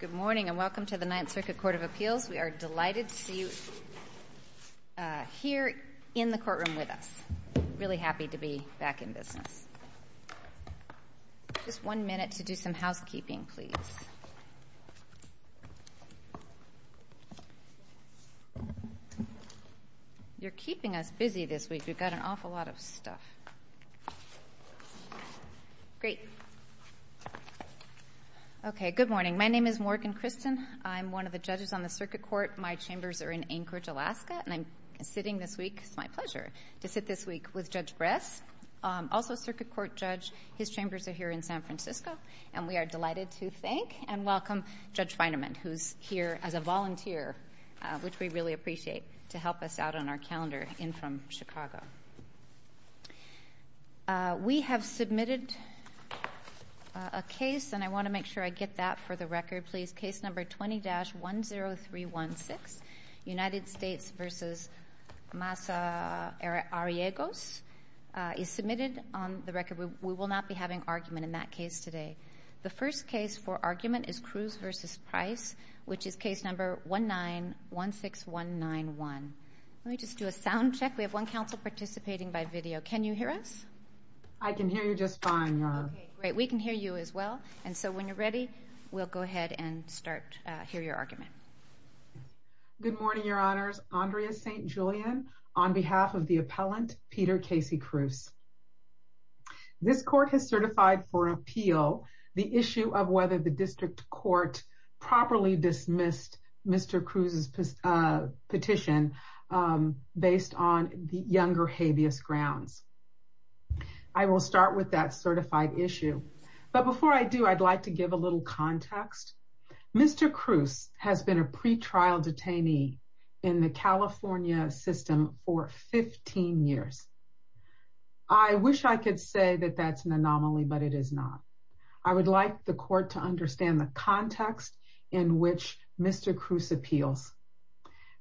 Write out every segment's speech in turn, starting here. Good morning and welcome to the 9th Circuit Court of Appeals. We are delighted to see you here in the courtroom with us. I'm really happy to be back in business. Good morning. My name is Morgan Christen. I'm one of the judges on the circuit court. My chambers are in Anchorage, Alaska, and I'm sitting this week—it's my pleasure to sit this week with Judge Bress, also a circuit court judge. His chambers are here in San Francisco, and we are delighted to thank and welcome Judge Feinemann, who's here as a volunteer, which we really appreciate, to help us out on our calendar in from Chicago. We have submitted a case, and I want to make sure I get that for the record, please. Case number 20-10316, United States v. Masa Ariegos, is submitted on the record. We will not be having argument in that case today. The first case for argument is Cruz v. Price, which is case number 19-16191. Let me just do a sound check. We have one counsel participating by video. Can you hear us? I can hear you just fine, Your Honor. Okay, great. We can hear you as well. And so, when you're ready, we'll go ahead and start to hear your argument. Good morning, Your Honors. Andrea St. Julian on behalf of the appellant, Peter Casey Cruz. This court has certified for appeal the issue of whether the district court properly dismissed Mr. Cruz's petition based on the younger habeas grounds. I will start with that certified issue. But before I do, I'd like to give a little context. Mr. Cruz has been a pretrial detainee in the California system for 15 years. I wish I could say that that's an anomaly, but it is not. I would like the court to understand the context in which Mr. Cruz appeals.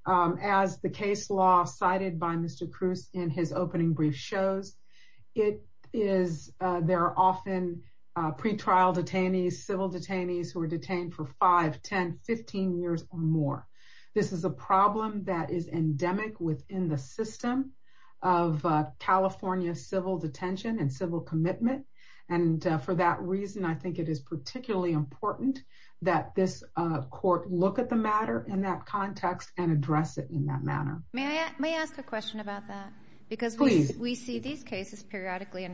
As the case law cited by Mr. Cruz in his opening brief shows, there are often pretrial detainees, civil detainees who are detained for 5, 10, 15 years or more. This is a problem that is endemic within the system of California civil detention and civil commitment, and for that reason, I think it is particularly important that this court look at the matter in that context and address it in that manner. May I ask a question about that? Please. We see these cases periodically, and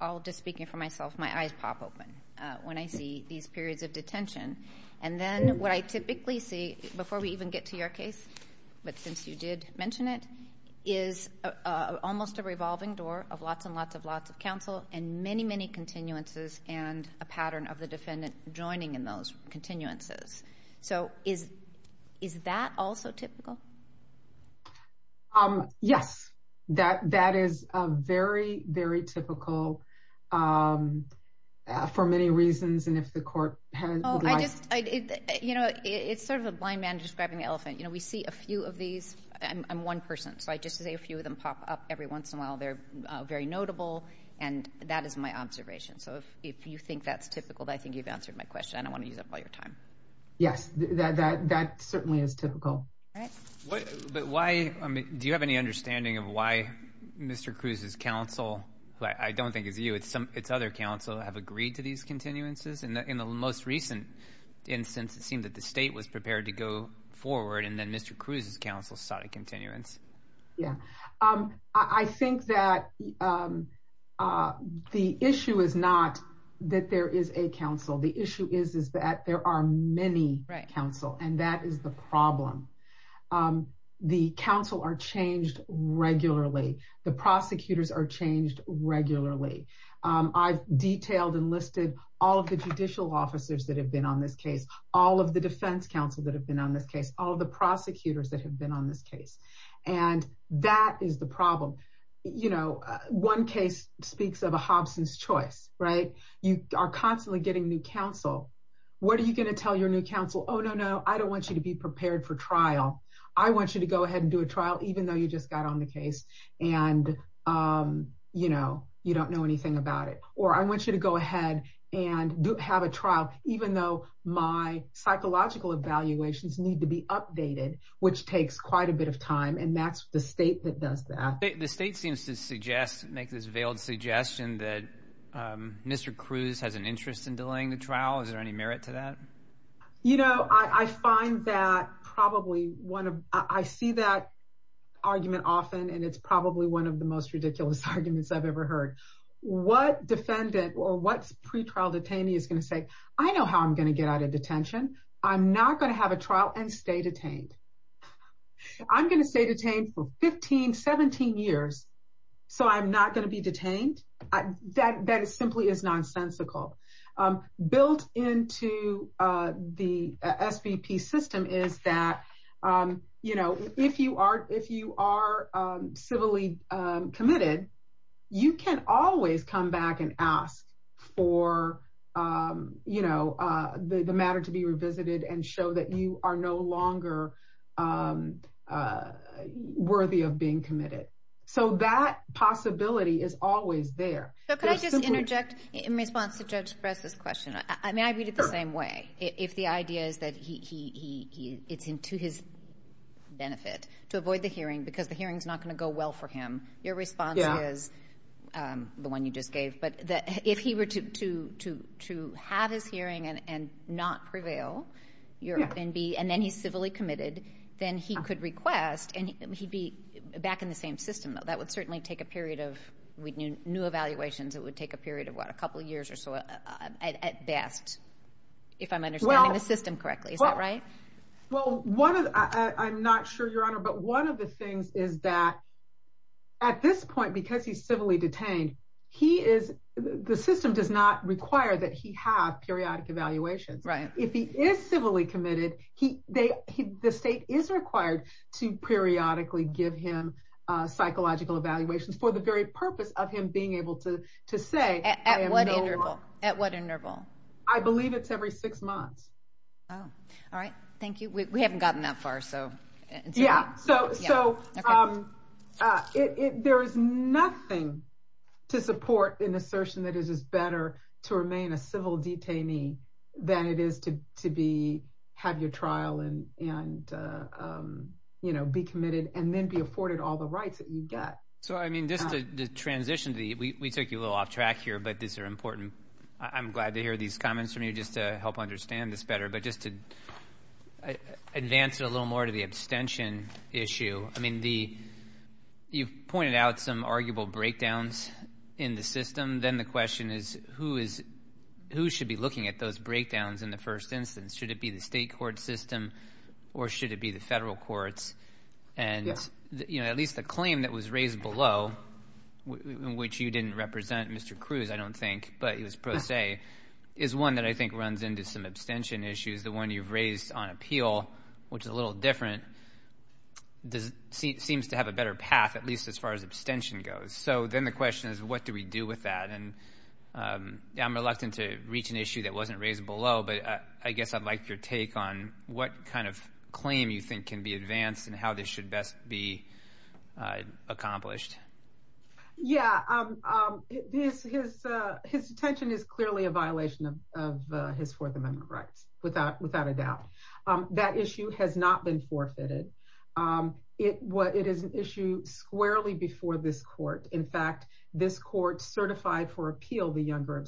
I'll just speak for myself. My eyes pop open when I see these periods of detention, and then what I typically see, before we even get to your case, but since you did mention it, is almost a revolving door of lots and lots and lots of counsel and many, many continuances and a pattern of the defendant joining in those continuances. Is that also typical? Yes. That is very, very typical for many reasons, and if the court hadn't— Oh, I just—you know, it's sort of a blind man describing the elephant. We see a few of these—I'm one person, so I just say a few of them pop up every once in a while. They're very notable, and that is my observation. So if you think that's typical, I think you've answered my question. I don't want to use up all your time. Yes, that certainly is typical. But why—do you have any understanding of why Mr. Cruz's counsel, who I don't think is you, it's other counsel, have agreed to these continuances? In the most recent instance, it seemed that the state was prepared to go forward, and then Mr. Cruz's counsel sought a continuance. Yeah. I think that the issue is not that there is a counsel. The issue is that there are many counsel, and that is the problem. The counsel are changed regularly. The prosecutors are changed regularly. I've detailed and listed all of the judicial officers that have been on this case, all of the defense counsel that have been on this case, all of the prosecutors that have been on this case, and that is the problem. You know, one case speaks of a Hobson's choice, right? You are constantly getting new counsel. What are you going to tell your new counsel? Oh, no, no, I don't want you to be prepared for trial. I want you to go ahead and do a trial, even though you just got on the case and, you know, you don't know anything about it. Or I want you to go ahead and have a trial, even though my psychological evaluations need to be updated, which takes quite a bit of time, and that's the state that does that. The state seems to suggest, make this veiled suggestion that Mr. Cruz has an interest in delaying the trial. Is there any merit to that? You know, I find that probably one of, I see that argument often, and it's probably one of the most ridiculous arguments I've ever heard. What defendant or what pretrial detainee is going to say, I know how I'm going to get out of detention. I'm not going to have a trial and stay detained. I'm going to stay detained for 15, 17 years, so I'm not going to be detained. That simply is nonsensical. Built into the SVP system is that, you know, if you are civilly committed, you can always come back and ask for, you know, the matter to be revisited and show that you are no longer worthy of being committed. So that possibility is always there. So could I just interject in response to Judge Press's question? I mean, I read it the same way. If the idea is that it's to his benefit to avoid the hearing because the hearing's not going to go well for him, your response is the one you just gave, but if he were to have his hearing and not prevail, and then he's civilly committed, then he could request, and he'd be back in the same system, though. That would certainly take a period of, with new evaluations, it would take a period of what, a couple years or so at best, if I'm understanding the system correctly. Is that right? Well, I'm not sure, Your Honor, but one of the things is that at this point, because he's civilly detained, he is, the system does not require that he have periodic evaluations. Right. If he is civilly committed, the state is required to periodically give him psychological evaluations for the very purpose of him being able to say, I am no longer. At what interval? I believe it's every six months. Oh, all right. Thank you. We haven't gotten that far, so. Yeah, so there is nothing to support an assertion that it is better to remain a civil detainee than it is to have your trial and be committed and then be afforded all the rights that you get. So, I mean, just to transition, we took you a little off track here, but these are important. I'm glad to hear these comments from you just to help understand this better, but just to advance it a little more to the abstention issue. I mean, you've pointed out some arguable breakdowns in the system. Then the question is, who should be looking at those breakdowns in the first instance? Should it be the state court system or should it be the federal courts? And at least the claim that was raised below, which you didn't represent, Mr. Cruz, I don't think, but it was pro se, is one that I think runs into some abstention issues. The one you've raised on appeal, which is a little different, seems to have a better path, at least as far as abstention goes. So then the question is, what do we do with that? And I'm reluctant to reach an issue that wasn't raised below, but I guess I'd like your take on what kind of claim you think can be advanced and how this should best be accomplished. Yeah, his detention is clearly a violation of his Fourth Amendment rights, without a doubt. That issue has not been forfeited. It is an issue squarely before this court. In fact, this court certified for appeal the younger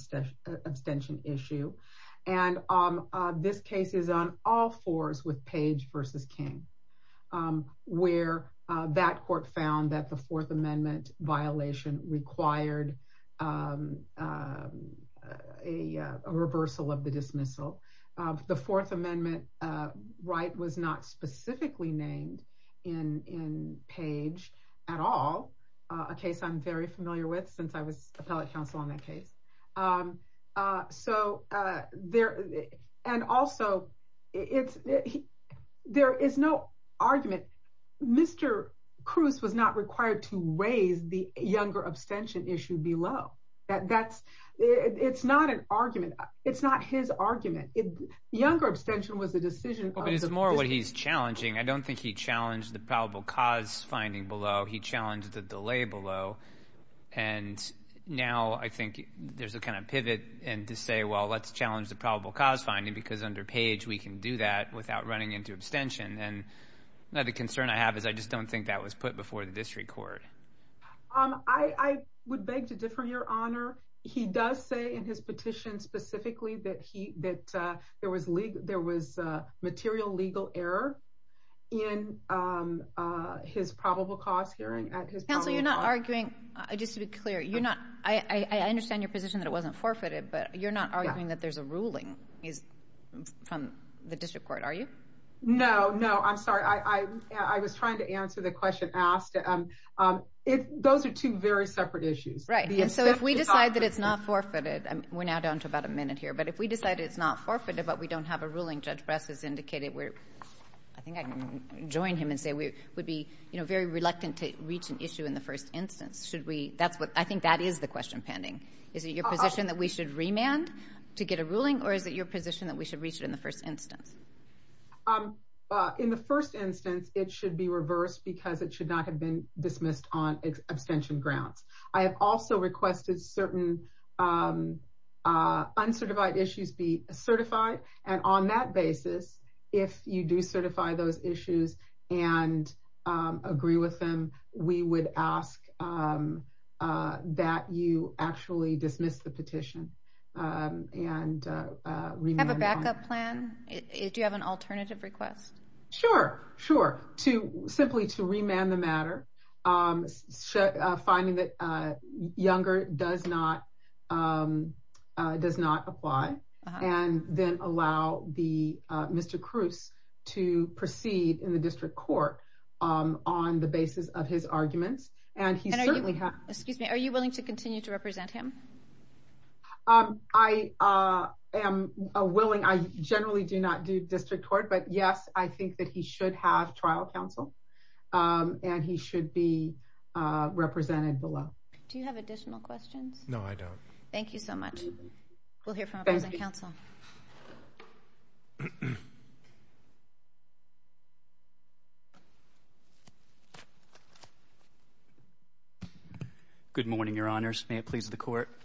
abstention issue. And this case is on all fours with Page versus King, where that court found that the Fourth Amendment violation required a reversal of the dismissal. The Fourth Amendment right was not specifically named in Page at all, a case I'm very familiar with since I was appellate counsel on that case. And also, there is no argument. Mr. Cruz was not required to raise the younger abstention issue below. It's not an argument. It's not his argument. Younger abstention was the decision. But it's more what he's challenging. I don't think he challenged the probable cause finding below. He challenged the delay below. And now I think there's a kind of pivot to say, well, let's challenge the probable cause finding, because under Page, we can do that without running into abstention. And the concern I have is I just don't think that was put before the district court. I would beg to differ, Your Honor. He does say in his petition specifically that there was material legal error in his probable cause hearing. Counsel, you're not arguing, just to be clear, I understand your position that it wasn't forfeited, but you're not arguing that there's a ruling from the district court, are you? No, no. I'm sorry. I was trying to answer the question asked. Those are two very separate issues. Right. And so if we decide that it's not forfeited, we're now down to about a minute here, but if we decide it's not forfeited, but we don't have a ruling, Judge Bress has indicated, I think I can join him and say we would be very reluctant to reach an issue in the first instance. I think that is the question pending. Is it your position that we should remand to get a ruling? Or is it your position that we should reach it in the first instance? In the first instance, it should be reversed because it should not have been dismissed on abstention grounds. I have also requested certain uncertified issues be certified. And on that basis, if you do certify those issues and agree with them, we would ask that you actually dismiss the petition and remand. Do you have a backup plan? Do you have an alternative request? Sure, sure. Simply to remand the matter, finding that Younger does not apply, and then allow Mr. Cruz to proceed in the district court on the basis of his arguments. Are you willing to continue to represent him? I am willing. I generally do not do district court. But yes, I think that he should have trial counsel, and he should be represented below. Do you have additional questions? No, I don't. Thank you so much. We'll hear from our present counsel. Good morning, Your Honors. May it please the Court. I'm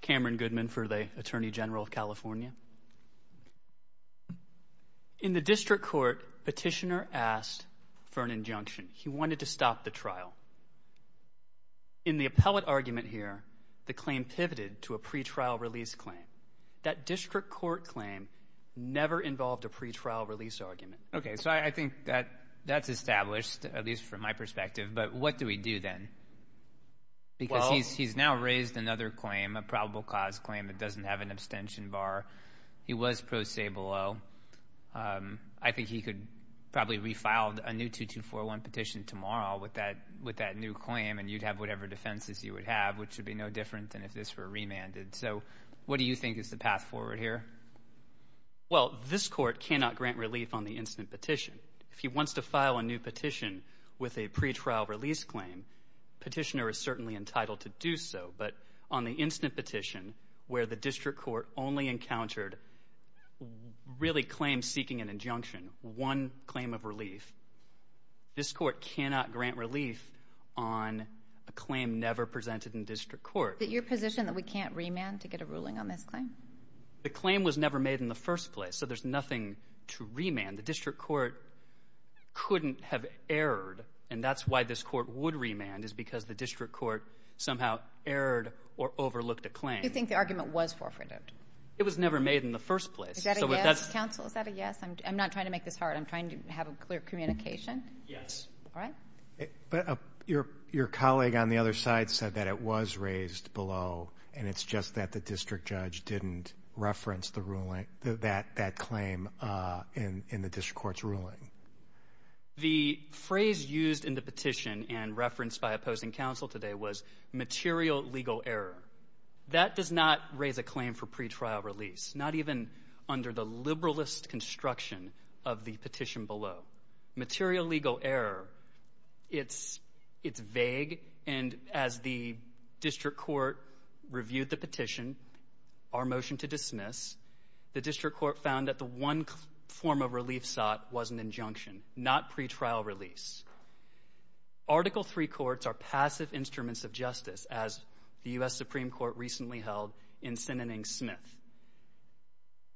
Cameron Goodman for the Attorney General of California. In the district court, Petitioner asked for an injunction. He wanted to stop the trial. In the appellate argument here, the claim pivoted to a pretrial release claim. That district court claim never involved a pretrial release argument. Okay, so I think that that's established, at least from my perspective. But what do we do then? Because he's now raised another claim, a probable cause claim that doesn't have an abstention bar. He was pro se below. I think he could probably refile a new 2241 petition tomorrow with that new claim, and you'd have whatever defenses you would have, which would be no different than if this were remanded. So what do you think is the path forward here? Well, this Court cannot grant relief on the instant petition. If he wants to file a new petition with a pretrial release claim, Petitioner is certainly entitled to do so. But on the instant petition, where the district court only encountered really claims seeking an injunction, one claim of relief, this Court cannot grant relief on a claim never presented in district court. Is it your position that we can't remand to get a ruling on this claim? The claim was never made in the first place, so there's nothing to remand. The district court couldn't have erred, and that's why this Court would remand, is because the district court somehow erred or overlooked a claim. Do you think the argument was forfeited? It was never made in the first place. Is that a yes, counsel? Is that a yes? I'm not trying to make this hard. I'm trying to have a clear communication. Yes. All right. But your colleague on the other side said that it was raised below, The phrase used in the petition and referenced by opposing counsel today was material legal error. That does not raise a claim for pretrial release, not even under the liberalist construction of the petition below. Material legal error, it's vague. And as the district court reviewed the petition, our motion to dismiss, the district court found that the one form of relief sought was an injunction, not pretrial release. Article III courts are passive instruments of justice, as the U.S. Supreme Court recently held in Sinning Smith.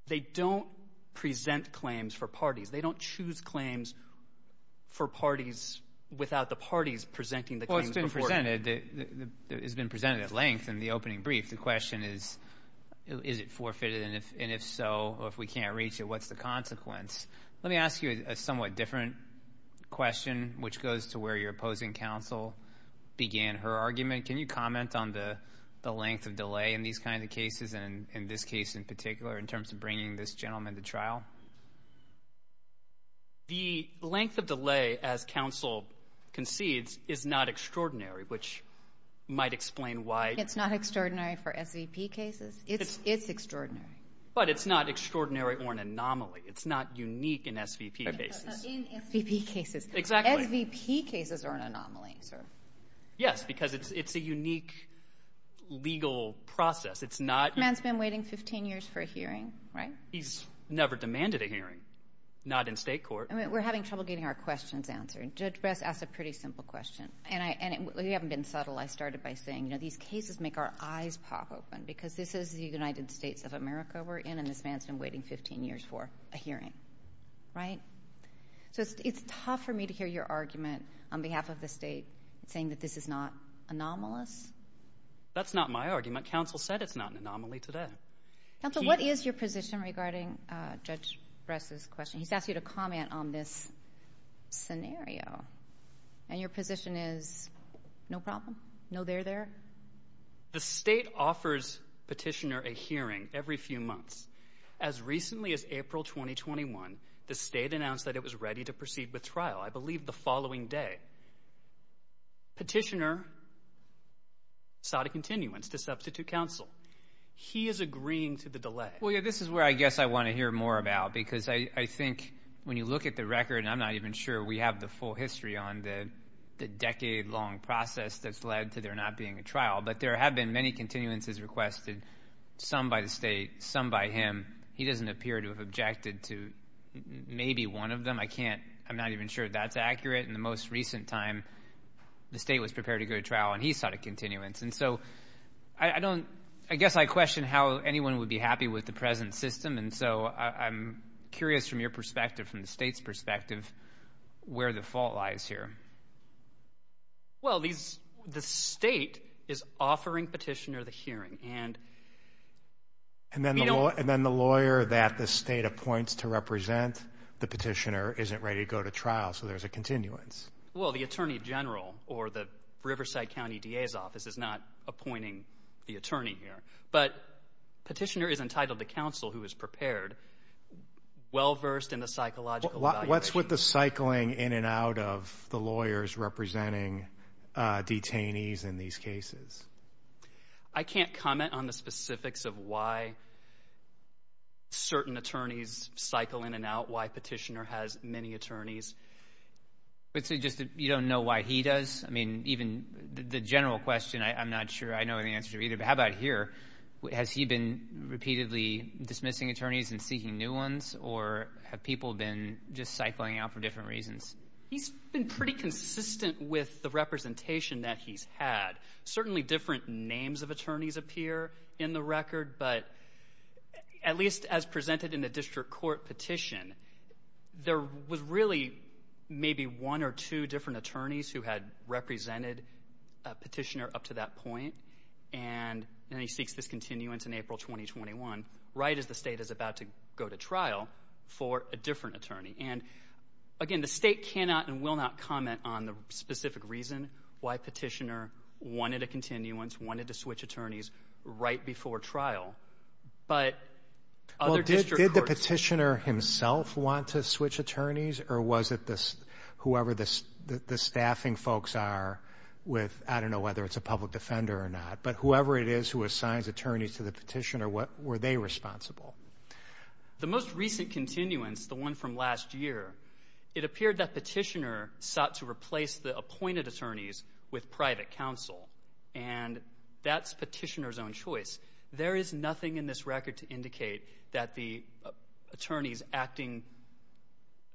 They don't present claims for parties. They don't choose claims for parties without the parties presenting the claims. Well, it's been presented at length in the opening brief. The question is, is it forfeited? And if so, or if we can't reach it, what's the consequence? Let me ask you a somewhat different question, which goes to where your opposing counsel began her argument. Can you comment on the length of delay in these kinds of cases, and in this case in particular, in terms of bringing this gentleman to trial? The length of delay, as counsel concedes, is not extraordinary, which might explain why. It's not extraordinary for SVP cases? It's extraordinary. But it's not extraordinary or an anomaly. It's not unique in SVP cases. In SVP cases. Exactly. SVP cases are an anomaly, sir. Yes, because it's a unique legal process. It's not... The man's been waiting 15 years for a hearing, right? He's never demanded a hearing. Not in state court. We're having trouble getting our questions answered. Judge Bress asked a pretty simple question. And you haven't been subtle. I started by saying, you know, these cases make our eyes pop open, because this is the United States of America we're in, and this man's been waiting 15 years for a hearing, right? So it's tough for me to hear your argument on behalf of the state, saying that this is not anomalous. That's not my argument. Counsel said it's not an anomaly today. Counsel, what is your position regarding Judge Bress's question? He's asked you to comment on this scenario. And your position is no problem? No there there? The state offers Petitioner a hearing every few months. As recently as April 2021, the state announced that it was ready to proceed with trial, I believe, the following day. Petitioner sought a continuance to substitute counsel. He is agreeing to the delay. Well, yeah, this is where I guess I want to hear more about, because I think when you look at the record, and I'm not even sure we have the full history on the decade-long process that's led to there not being a trial, but there have been many continuances requested, some by the state, some by him. He doesn't appear to have objected to maybe one of them. I can't, I'm not even sure that's accurate. In the most recent time, the state was prepared to go to trial and he sought a continuance. And so I don't, I guess I question how anyone would be happy with the present system. And so I'm curious from your perspective, from the state's perspective, where the fault lies here. Well, these, the state is offering petitioner the hearing and... And then the lawyer that the state appoints to represent the petitioner isn't ready to go to trial, so there's a continuance. Well, the attorney general or the Riverside County DA's office is not appointing the attorney here. But petitioner is entitled to counsel who is prepared, well-versed in the psychological evaluation. What's with the cycling in and out of the lawyers representing detainees in these cases? I can't comment on the specifics of why certain attorneys cycle in and out, why petitioner has many attorneys. But so just, you don't know why he does? I mean, even the general question, I'm not sure I know the answer to either. But how about here? Has he been repeatedly dismissing attorneys and seeking new ones? Or have people been just cycling out for different reasons? He's been pretty consistent with the representation that he's had. Certainly different names of attorneys appear in the record, but at least as presented in the district court petition, there was really maybe one or two different attorneys who had represented a petitioner up to that point. And then he seeks this continuance in April 2021, right as the state is about to go to trial for a different attorney. And again, the state cannot and will not comment on the specific reason why petitioner wanted a continuance, wanted to switch attorneys right before trial. But other district courts- Did the petitioner himself want to switch attorneys? Or was it whoever the staffing folks are with, I don't know whether it's a public defender or not, but whoever it is who assigns attorneys to the petitioner, were they responsible? The most recent continuance, the one from last year, it appeared that petitioner sought to replace the appointed attorneys with private counsel. And that's petitioner's own choice. There is nothing in this record to indicate that the attorneys acting-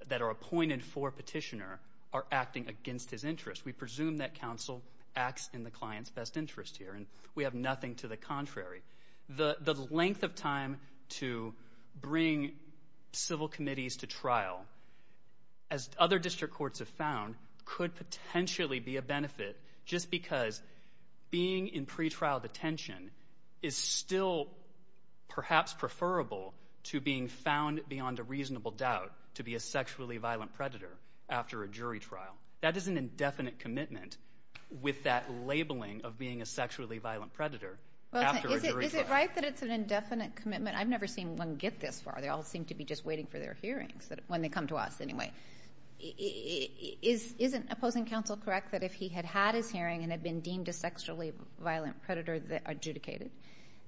that are appointed for petitioner are acting against his interest. We presume that counsel acts in the client's best interest here. And we have nothing to the contrary. The length of time to bring civil committees to trial, as other district courts have found, could potentially be a benefit just because being in pretrial detention is still perhaps preferable to being found beyond a reasonable doubt to be a sexually violent predator after a jury trial. That is an indefinite commitment with that labeling of being a sexually violent predator after a jury trial. Is it right that it's an indefinite commitment? I've never seen one get this far. They all seem to be just waiting for their hearings, when they come to us anyway. Isn't opposing counsel correct that if he had had his hearing and had been deemed a sexually violent predator that adjudicated,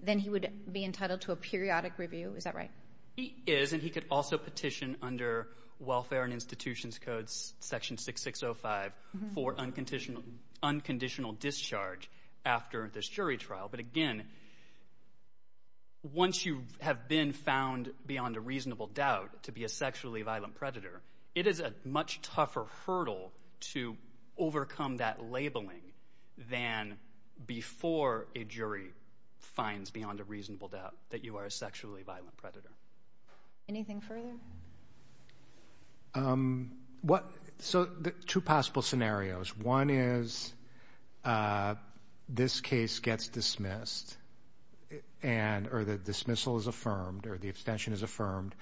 then he would be entitled to a periodic review? Is that right? He is. And he could also petition under Welfare and Institutions Codes section 6605 for unconditional discharge after this jury trial. But again, once you have been found beyond a reasonable doubt to be a sexually violent predator, it is a much tougher hurdle to overcome that labeling than before a jury finds beyond a reasonable doubt that you are a sexually violent predator. Anything further? So, two possible scenarios. One is this case gets dismissed or the dismissal is affirmed or the abstention is affirmed,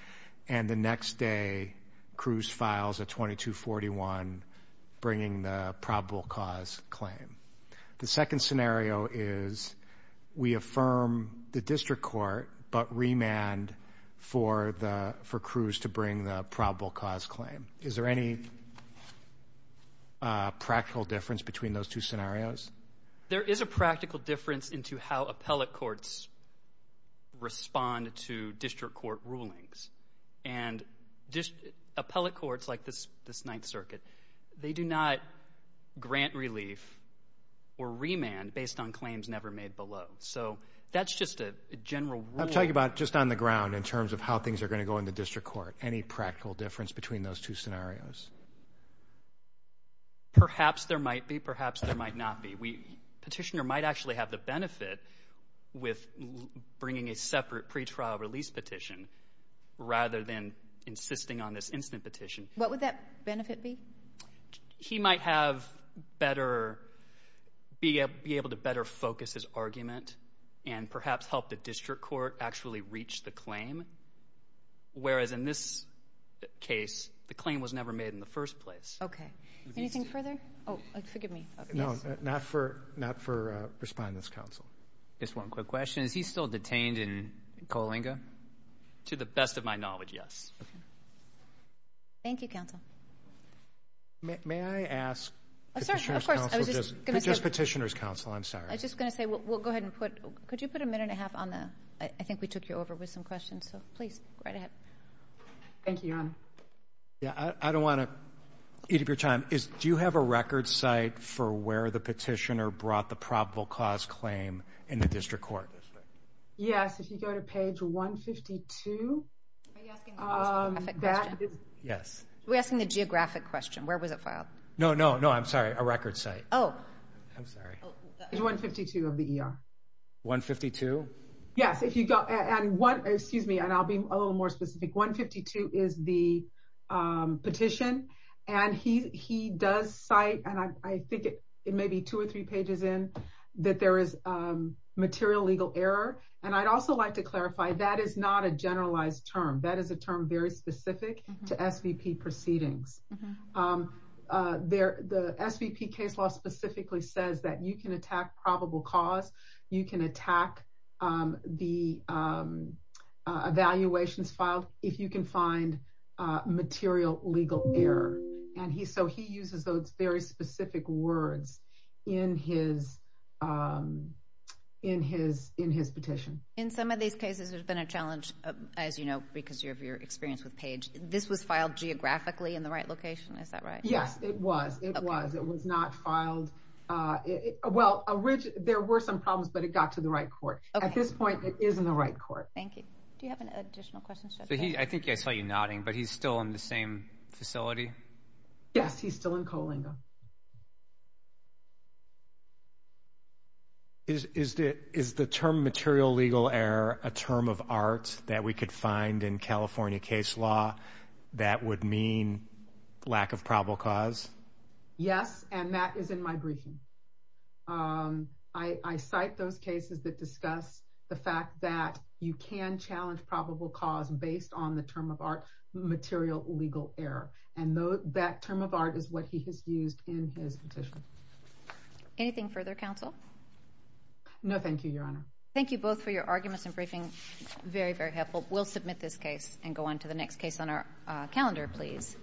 and the next day Cruz files a 2241 bringing the probable cause claim. The second scenario is we affirm the district court but remand for Cruz to bring the probable cause claim. Is there any practical difference between those two scenarios? There is a practical difference into how appellate courts respond to district court rulings. And appellate courts like this Ninth Circuit, they do not grant relief or remand based on claims never made below. So, that's just a general rule. I'm talking about just on the ground in terms of how things are going to go in the district court. Any practical difference between those two scenarios? Perhaps there might be, perhaps there might not be. Petitioner might actually have the benefit with bringing a separate pretrial release petition rather than insisting on this instant petition. What would that benefit be? He might have better, be able to better focus his argument and perhaps help the district court actually reach the claim. Whereas in this case, the claim was never made in the first place. Okay. Anything further? Oh, forgive me. No, not for respondents, counsel. Just one quick question. Is he still detained in Coalinga? To the best of my knowledge, yes. Thank you, counsel. May I ask petitioner's counsel, just petitioner's counsel, I'm sorry. I was just going to say, we'll go ahead and put, could you put a minute and a half on the, I think we took you over with some questions. So, please, right ahead. Thank you, Your Honor. Yeah, I don't want to eat up your time. Do you have a record site for where the petitioner brought the probable cause claim in the district court? Yes, if you go to page 152. Are you asking the geographic question? Yes. We're asking the geographic question. Where was it filed? No, no, no. I'm sorry. A record site. Oh. I'm sorry. It's 152 of the ER. 152? Yes, if you go, and one, excuse me, and I'll be a little more specific. 152 is the petition, and he does cite, and I think it may be two or three pages in, that there is material legal error. And I'd also like to clarify, that is not a generalized term. That is a term very specific to SVP proceedings. The SVP case law specifically says that you can attack probable cause, you can attack the evaluations filed, if you can find material legal error. And so he uses those very specific words in his petition. As you know, because of your experience with Page, this was filed geographically in the right location? Is that right? Yes, it was. It was. It was not filed. Well, there were some problems, but it got to the right court. At this point, it is in the right court. Thank you. Do you have an additional question? I think I saw you nodding, but he's still in the same facility? Yes, he's still in Coalinga. Is the term material legal error a term of art? That we could find in California case law, that would mean lack of probable cause? Yes, and that is in my briefing. I cite those cases that discuss the fact that you can challenge probable cause based on the term of art, material legal error. And that term of art is what he has used in his petition. Anything further, counsel? No, thank you, Your Honor. Thank you both for your arguments and briefing. Very, very helpful. We'll submit this case and go on to the next case on our calendar, please.